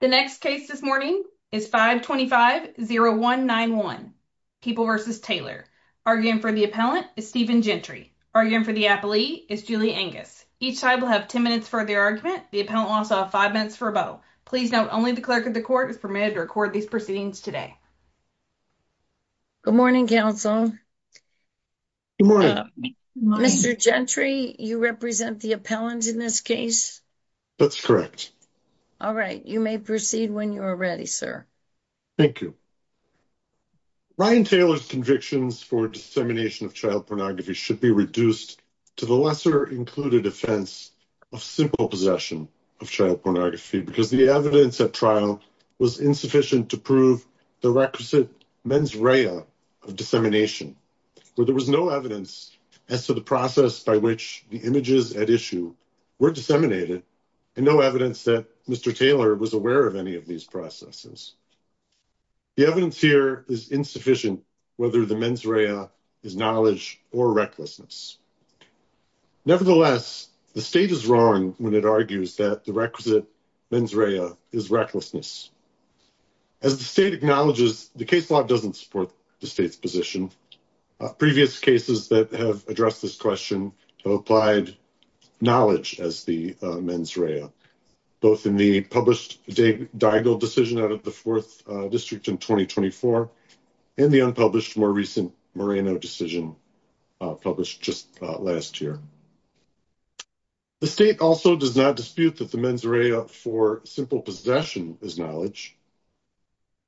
The next case this morning is 525-0191, People v. Taylor. Arguing for the appellant is Stephen Gentry. Arguing for the appellee is Julie Angus. Each side will have 10 minutes for their argument. The appellant will also have 5 minutes for a vote. Please note only the clerk of the court is permitted to record these proceedings today. Good morning, counsel. Good morning. Mr. Gentry, you represent the appellant in this case? That's correct. All right. You may proceed when you're ready, sir. Thank you. Ryan Taylor's convictions for dissemination of child pornography should be reduced to the lesser-included offense of simple possession of child pornography because the evidence at trial was insufficient to prove the requisite mens rea of dissemination, where there was no evidence as to the process by which the images at issue were disseminated and no evidence that Mr. Taylor was aware of any of these processes. The evidence here is insufficient whether the mens rea is knowledge or recklessness. Nevertheless, the state is wrong when it argues that the requisite mens rea is recklessness. As the state acknowledges, the case law doesn't support the state's position. Previous cases that have addressed this question have applied knowledge as the mens rea, both in the published Daigle decision out of the 4th District in 2024 and the unpublished, more recent Moreno decision published just last year. The state also does not dispute that the mens rea for simple possession is knowledge.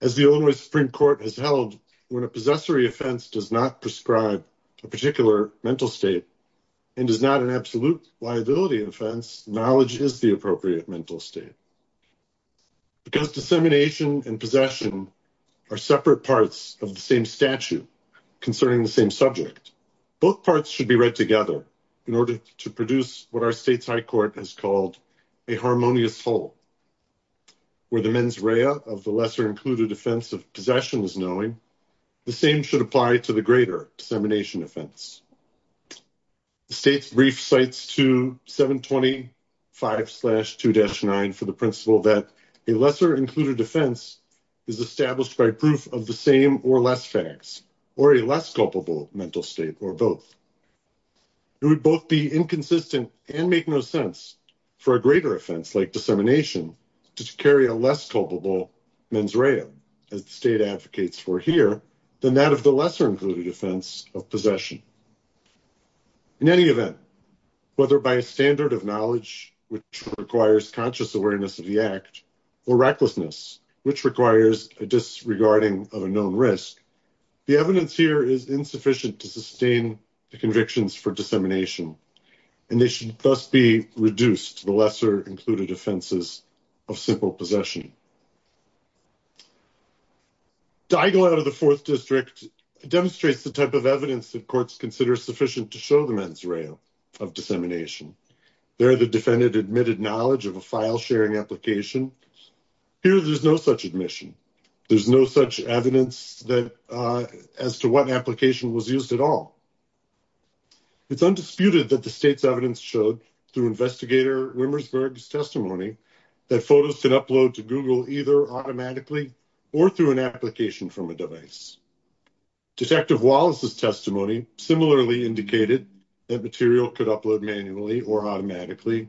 As the Illinois Supreme Court has held, when a possessory offense does not prescribe a particular mental state and is not an absolute liability offense, knowledge is the appropriate mental state. Because dissemination and possession are separate parts of the same statute concerning the same subject, both parts should be read together in order to produce what our state's High Court has called a harmonious whole. Where the mens rea of the lesser included offense of possession is knowing, the same should apply to the greater dissemination offense. The state's brief cites 2725-2-9 for the principle that a lesser included offense is established by proof of the same or less facts, or a less culpable mental state, or both. It would both be inconsistent and make no sense for a greater offense like dissemination to carry a less culpable mens rea, as the state advocates for here, than that of the lesser included offense of possession. In any event, whether by a standard of knowledge, which requires conscious awareness of the act, or recklessness, which requires a disregarding of a known risk, the evidence here is insufficient to sustain the convictions for dissemination, and they should thus be reduced to the lesser included offenses of simple possession. Diagle out of the Fourth District demonstrates the type of evidence that courts consider sufficient to show the mens rea of dissemination. There, the defendant admitted knowledge of a file-sharing application. Here, there's no such admission. There's no such evidence as to what application was used at all. It's undisputed that the state's evidence showed, through Investigator Rimmersberg's testimony, that photos could upload to Google either automatically or through an application from a device. Detective Wallace's testimony similarly indicated that material could upload manually or automatically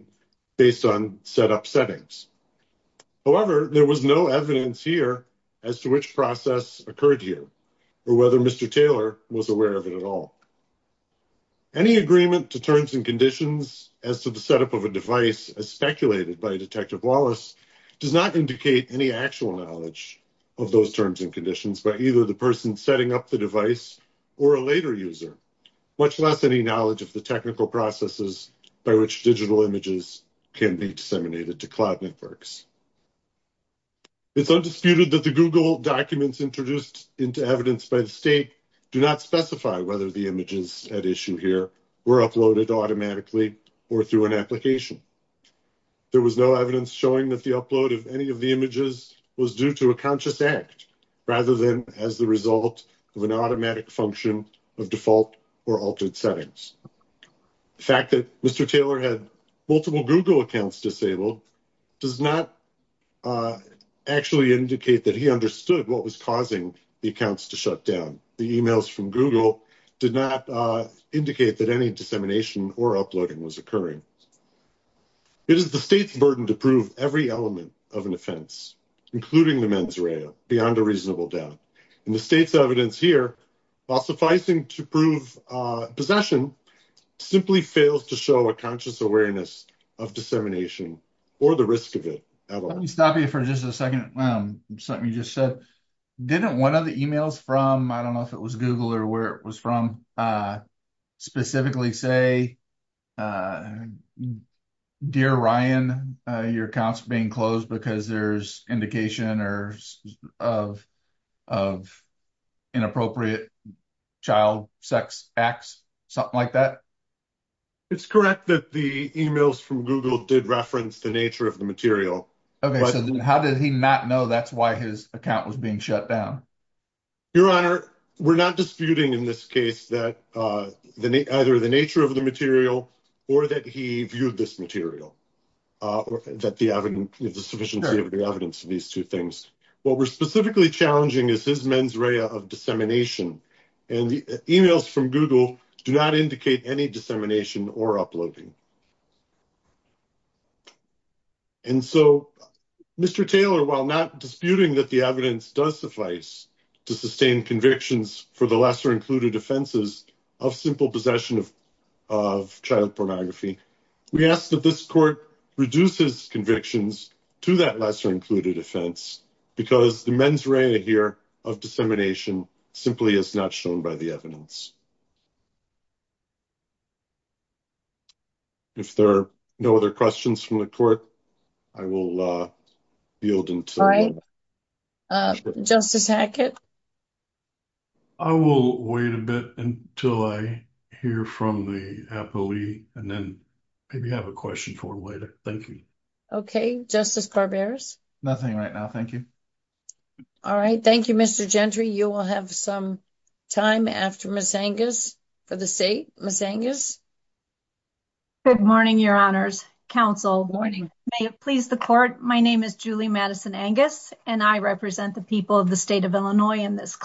based on set-up settings. However, there was no evidence here as to which process occurred here, or whether Mr. Taylor was aware of it at all. Any agreement to terms and conditions as to the set-up of a device, as speculated by Detective Wallace, does not indicate any actual knowledge of those terms and conditions by either the person setting up the device or a later user, much less any knowledge of the technical processes by which digital images can be disseminated to cloud networks. It's undisputed that the Google documents introduced into evidence by the state do not specify whether the images at issue here were uploaded automatically or through an application. There was no evidence showing that the upload of any of the images was due to a conscious act, rather than as the result of an automatic function of default or altered settings. The fact that Mr. Taylor had multiple Google accounts disabled does not actually indicate that he understood what was causing the accounts to shut down. The emails from Google did not indicate that any dissemination or uploading was occurring. It is the state's burden to prove every element of an offense, including the mens rea, beyond a reasonable doubt. The state's evidence here, while sufficing to prove possession, simply fails to show a conscious awareness of dissemination or the risk of it at all. Let me stop you for just a second on something you just said. Didn't one of the emails from, I don't know if it was Google or where it was from, specifically say, Dear Ryan, your account's being closed because there's indication of inappropriate child, sex, acts, something like that? It's correct that the emails from Google did reference the nature of the material. Okay, so how did he not know that's why his account was being shut down? Your Honor, we're not disputing in this case that either the nature of the material or that he viewed this material, that the evidence, the sufficiency of the evidence of these two things. What we're specifically challenging is his mens rea of dissemination, and the emails from Google do not indicate any dissemination or uploading. And so, Mr. Taylor, while not disputing that the evidence does suffice to sustain convictions for the lesser included offenses of simple possession of child pornography, we ask that this court reduces convictions to that lesser included offense because the mens rea here of dissemination simply is not shown by the evidence. If there are no other questions from the court, I will yield until then. Justice Hackett? I will wait a bit until I hear from the appellee, and then maybe have a question for him later. Thank you. Okay. Justice Barberas? Nothing right now. Thank you. All right. Thank you, Mr. Gentry. You will have some time after Ms. Angus for the state. Ms. Angus? Good morning, Your Honors. Counsel. May it please the court, my name is Julie Madison Angus, and I represent the people of the state of Illinois in this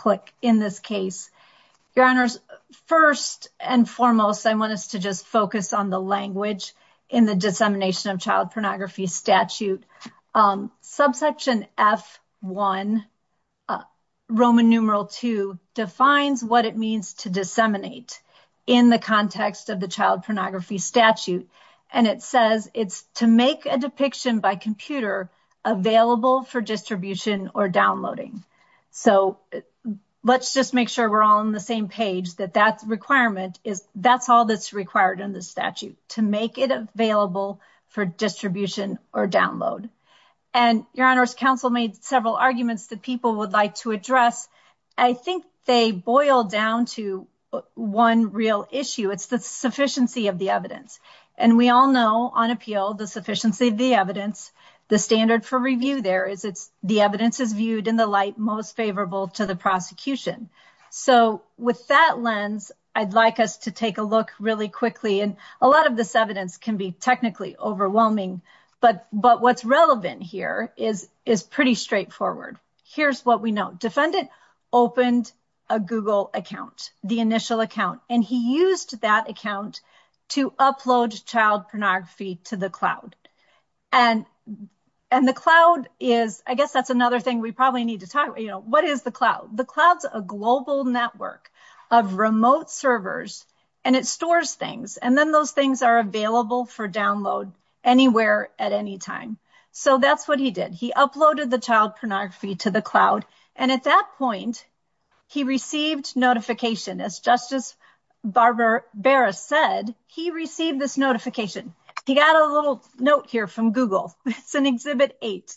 case. Your Honors, first and foremost, I want us to just focus on the language in the dissemination of child pornography statute. Subsection F1, Roman numeral 2, defines what it means to disseminate in the context of the child pornography statute. And it says it's to make a depiction by computer available for distribution or downloading. So let's just make sure we're all on the same page, that that requirement is, that's all that's required in the statute, to make it available for distribution or download. And Your Honors, counsel made several arguments that people would like to address. I think they boil down to one real issue. It's the sufficiency of the evidence. And we all know on appeal, the sufficiency of the evidence, the standard for review there is it's the evidence is viewed in the light most favorable to the prosecution. So with that lens, I'd like us to take a look really quickly. And a lot of this evidence can be technically overwhelming. But what's relevant here is pretty straightforward. Here's what we know. Defendant opened a Google account, the initial account. And he used that account to upload child pornography to the cloud. And the cloud is, I guess that's another thing we probably need to talk, you know, what is the cloud? The cloud's a global network of remote servers. And it stores things. And then those things are available for download anywhere at any time. So that's what he did. He uploaded the child pornography to the cloud. And at that point, he received notification. As Justice Barbara Barra said, he received this notification. He got a little note here from Google. It's in Exhibit 8.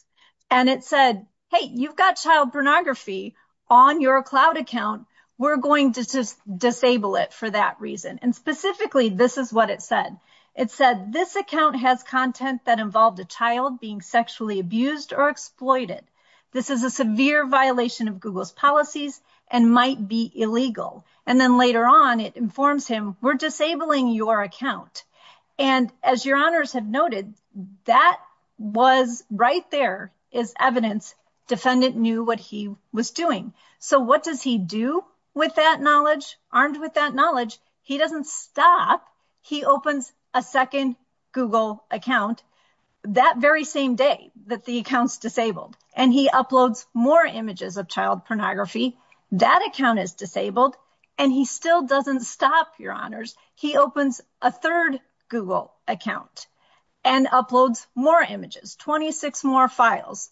And it said, hey, you've got child pornography on your cloud account. We're going to disable it for that reason. And specifically, this is what it said. It said, this account has content that involved a child being sexually abused or exploited. This is a severe violation of Google's policies and might be illegal. And then later on, it informs him, we're disabling your account. And as your honors have noted, that was right there as evidence. Defendant knew what he was doing. So what does he do with that knowledge? Armed with that knowledge, he doesn't stop. He opens a second Google account that very same day that the account's disabled. And he uploads more images of child pornography. That account is disabled. And he still doesn't stop, your honors. He opens a third Google account and uploads more images, 26 more files,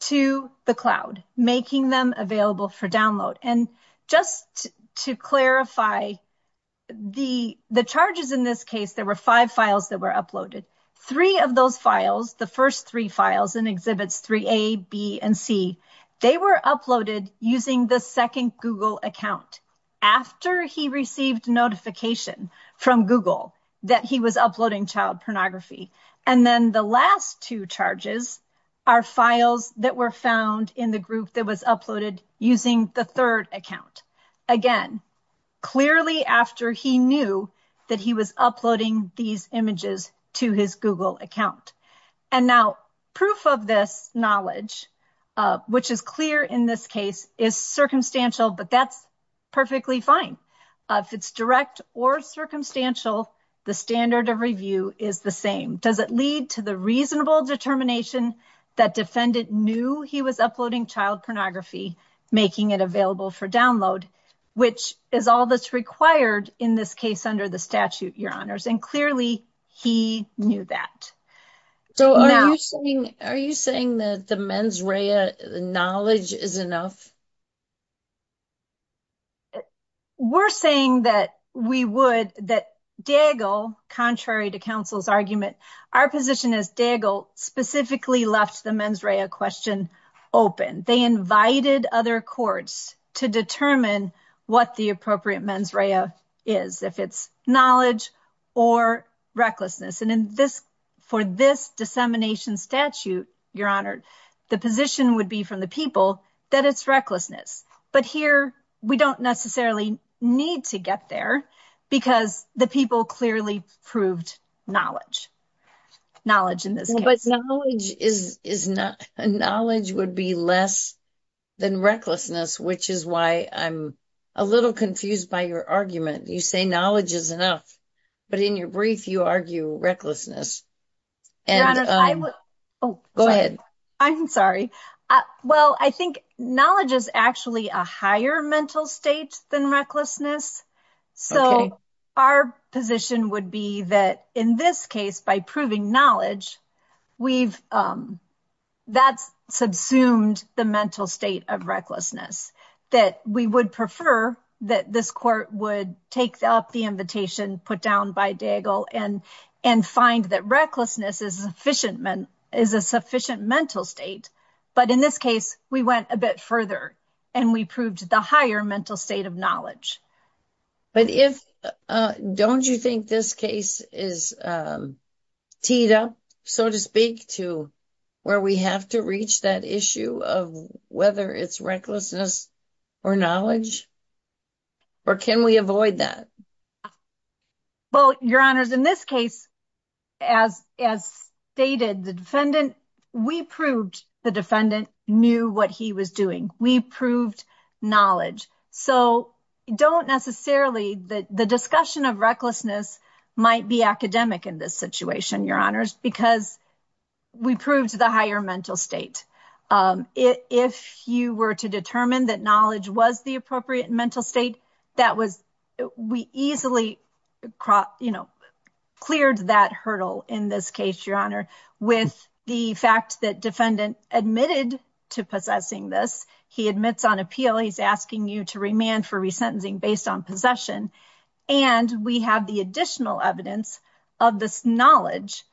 to the cloud, making them available for download. And just to clarify, the charges in this case, there were five files that were uploaded. Three of those files, the first three files in Exhibits 3A, B, and C, they were uploaded using the second Google account, after he received notification from Google that he was uploading child pornography. And then the last two charges are files that were found in the group that was uploaded using the third account. Again, clearly after he knew that he was uploading these images to his Google account. And now, proof of this knowledge, which is clear in this case, is circumstantial, but that's perfectly fine. If it's direct or circumstantial, the standard of review is the same. Does it lead to the reasonable determination that defendant knew he was uploading child pornography, making it available for download, which is all that's required in this case under the statute, your honors. And clearly, he knew that. So are you saying that the mens rea knowledge is enough? We're saying that we would, that Daigle, contrary to counsel's argument, our position is Daigle specifically left the mens rea question open. They invited other courts to determine what the appropriate mens rea is, if it's knowledge or recklessness. And for this dissemination statute, your honor, the position would be from the people that it's recklessness. But here, we don't necessarily need to get there because the people clearly proved knowledge. Knowledge in this case. But knowledge would be less than recklessness, which is why I'm a little confused by your argument. You say knowledge is enough. But in your brief, you argue recklessness. Go ahead. I'm sorry. Well, I think knowledge is actually a higher mental state than recklessness. So our position would be that in this case, by proving knowledge, that's subsumed the mental state of recklessness. That we would prefer that this court would take up the invitation put down by Daigle and find that recklessness is a sufficient mental state. But in this case, we went a bit further and we proved the higher mental state of knowledge. But don't you think this case is teed up, so to speak, to where we have to reach that issue of whether it's recklessness or knowledge? Or can we avoid that? Well, your honors, in this case, as stated, the defendant, we proved the defendant knew what he was doing. We proved knowledge. So don't necessarily, the discussion of recklessness might be academic in this situation, your honors, because we proved the higher mental state. If you were to determine that knowledge was the appropriate mental state, that was, we easily, you know, cleared that hurdle in this case, your honor. With the fact that defendant admitted to possessing this, he admits on appeal, he's asking you to remand for resentencing based on possession. And we have the additional evidence of this knowledge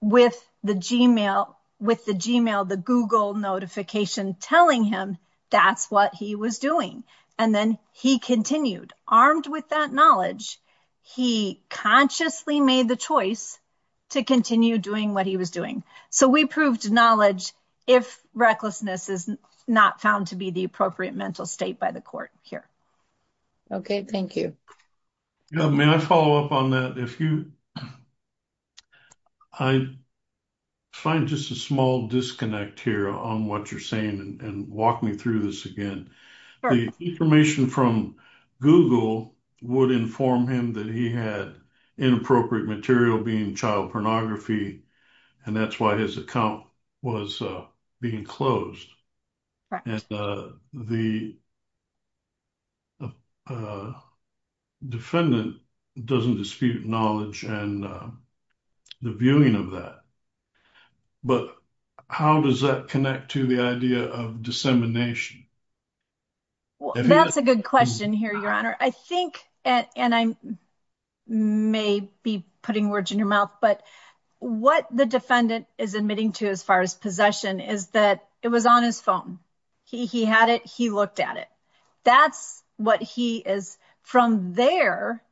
with the Gmail, the Google notification telling him that's what he was doing. And then he continued. Armed with that knowledge, he consciously made the choice to continue doing what he was doing. So we proved knowledge if recklessness is not found to be the appropriate mental state by the court here. Okay, thank you. May I follow up on that? If you, I find just a small disconnect here on what you're saying and walk me through this again. The information from Google would inform him that he had inappropriate material being child pornography. And that's why his account was being closed. The defendant doesn't dispute knowledge and the viewing of that. But how does that connect to the idea of dissemination? That's a good question here, your honor. And I may be putting words in your mouth, but what the defendant is admitting to as far as possession is that it was on his phone. He had it. He looked at it. That's what he is. From there,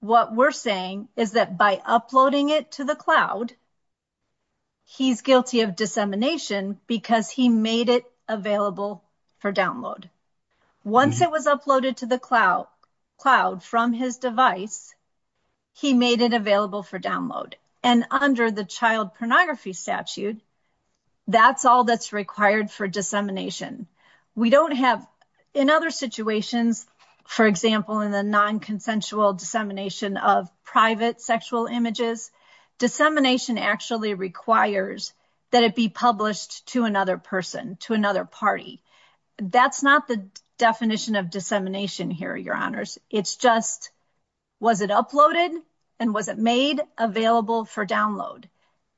what we're saying is that by uploading it to the cloud, he's guilty of dissemination because he made it available for download. Once it was uploaded to the cloud from his device, he made it available for download. And under the child pornography statute, that's all that's required for dissemination. We don't have, in other situations, for example, in the non-consensual dissemination of private sexual images, dissemination actually requires that it be published to another person, to another party. That's not the definition of dissemination here, your honors. It's just, was it uploaded? And was it made available for download?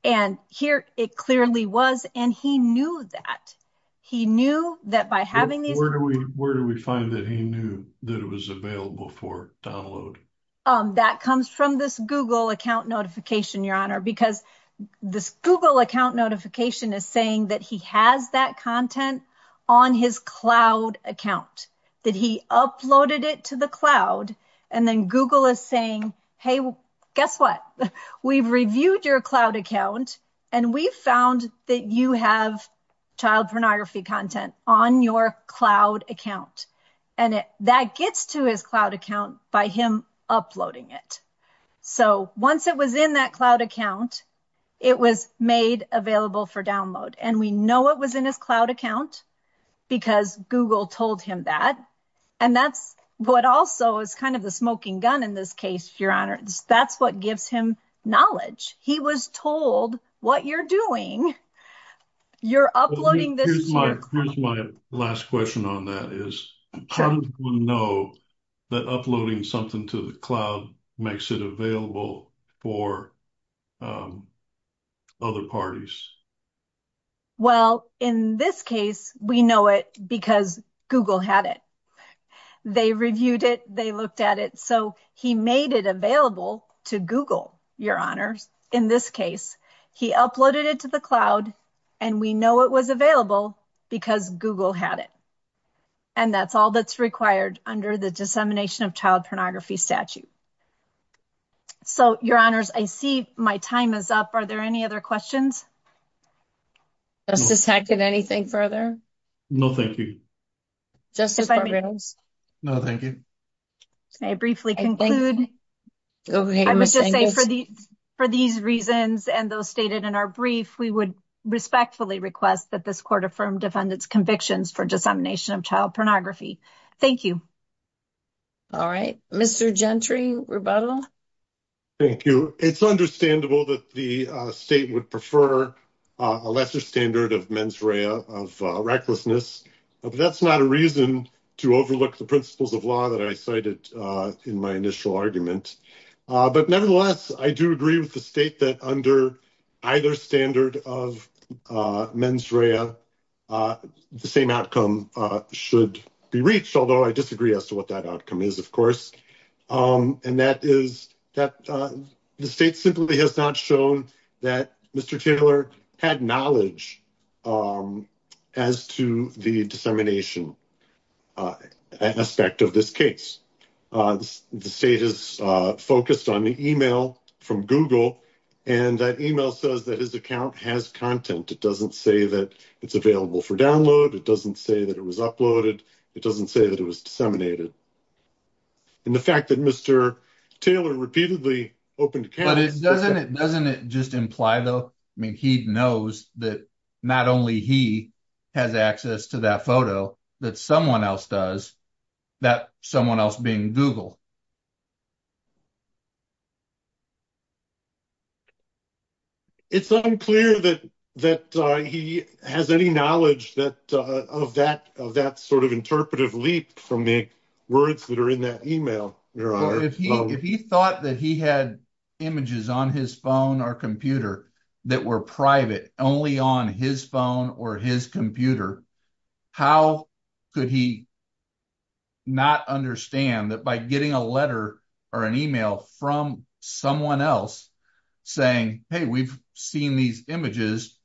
And here it clearly was. And he knew that. He knew that by having these. Where do we find that he knew that it was available for download? That comes from this Google account notification, your honor, because this Google account notification is saying that he has that content on his cloud account, that he uploaded it to the cloud. And then Google is saying, hey, guess what? We've reviewed your cloud account, and we found that you have child pornography content on your cloud account. And that gets to his cloud account by him uploading it. So once it was in that cloud account, it was made available for download. And we know it was in his cloud account because Google told him that. And that's what also is kind of the smoking gun in this case, your honors. That's what gives him knowledge. He was told what you're doing, you're uploading this to your cloud account. My last question on that is how does one know that uploading something to the cloud makes it available for other parties? Well, in this case, we know it because Google had it. They reviewed it. They looked at it. So he made it available to Google, your honors. In this case, he uploaded it to the cloud, and we know it was available because Google had it. And that's all that's required under the Dissemination of Child Pornography statute. So, your honors, I see my time is up. Are there any other questions? Justice Hackett, anything further? No, thank you. Justice Barrios? No, thank you. May I briefly conclude? I must just say for these reasons and those stated in our brief, we would respectfully request that this court affirm defendant's convictions for Dissemination of Child Pornography. Thank you. All right. Mr. Gentry, rebuttal? Thank you. It's understandable that the state would prefer a lesser standard of mens rea, of recklessness. But that's not a reason to overlook the principles of law that I cited in my initial argument. But nevertheless, I do agree with the state that under either standard of mens rea, the same outcome should be reached, although I disagree as to what that outcome is, of course. And that is that the state simply has not shown that Mr. Taylor had knowledge as to the dissemination aspect of this case. The state has focused on the email from Google, and that email says that his account has content. It doesn't say that it's available for download. It doesn't say that it was uploaded. It doesn't say that it was disseminated. And the fact that Mr. Taylor repeatedly opened accounts... But doesn't it just imply, though, I mean, he knows that not only he has access to that photo, that someone else does, that someone else being Google. It's unclear that he has any knowledge of that sort of interpretive leap from the words that are in that email. If he thought that he had images on his phone or computer that were private only on his phone or his computer, how could he not understand that by getting a letter or an email from someone else saying, hey, we've seen these images,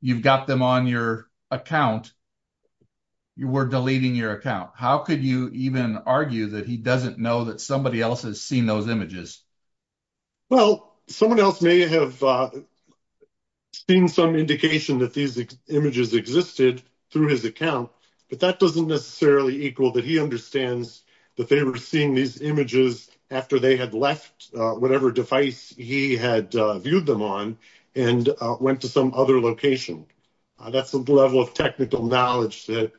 you've got them on your account, you were deleting your account? How could you even argue that he doesn't know that somebody else has seen those images? Well, someone else may have seen some indication that these images existed through his account, but that doesn't necessarily equal that he understands that they were seeing these images after they had left whatever device he had viewed them on and went to some other location. That's a level of technical knowledge that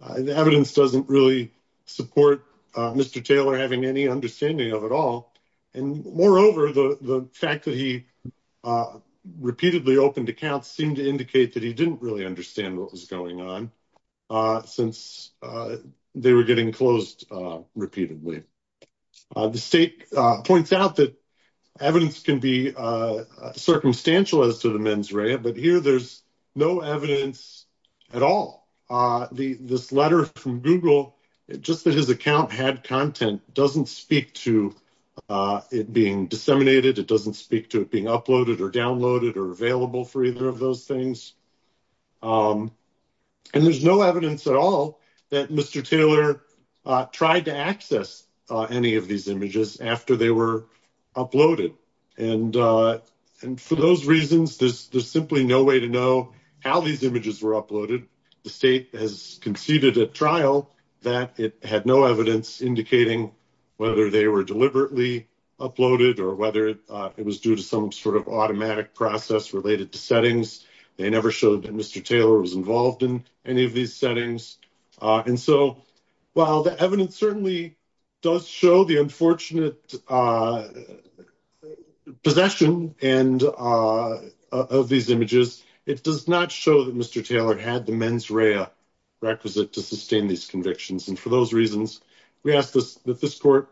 the evidence doesn't really support Mr. Taylor having any understanding of it all. And moreover, the fact that he repeatedly opened accounts seemed to indicate that he didn't really understand what was going on since they were getting closed repeatedly. The state points out that evidence can be circumstantial as to the mens rea, but here there's no evidence at all. This letter from Google, just that his account had content, doesn't speak to it being disseminated, it doesn't speak to it being uploaded or downloaded or available for either of those things. And there's no evidence at all that Mr. Taylor tried to access any of these images after they were uploaded. And for those reasons, there's simply no way to know how these images were uploaded. The state has conceded at trial that it had no evidence indicating whether they were deliberately uploaded or whether it was due to some sort of automatic process related to settings. They never showed that Mr. Taylor was involved in any of these settings. And so while the evidence certainly does show the unfortunate possession of these images, it does not show that Mr. Taylor had the mens rea requisite to sustain these convictions. And for those reasons, we ask that this court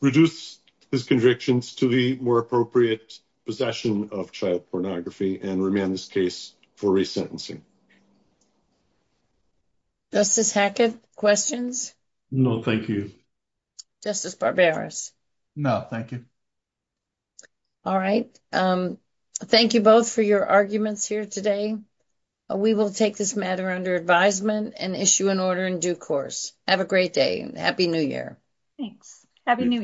reduce his convictions to the more appropriate possession of child pornography and remand this case for resentencing. Justice Hackett, questions? No, thank you. Justice Barberis? No, thank you. All right. Thank you both for your arguments here today. We will take this matter under advisement and issue an order in due course. Have a great day. Happy New Year. Thanks. Happy New Year.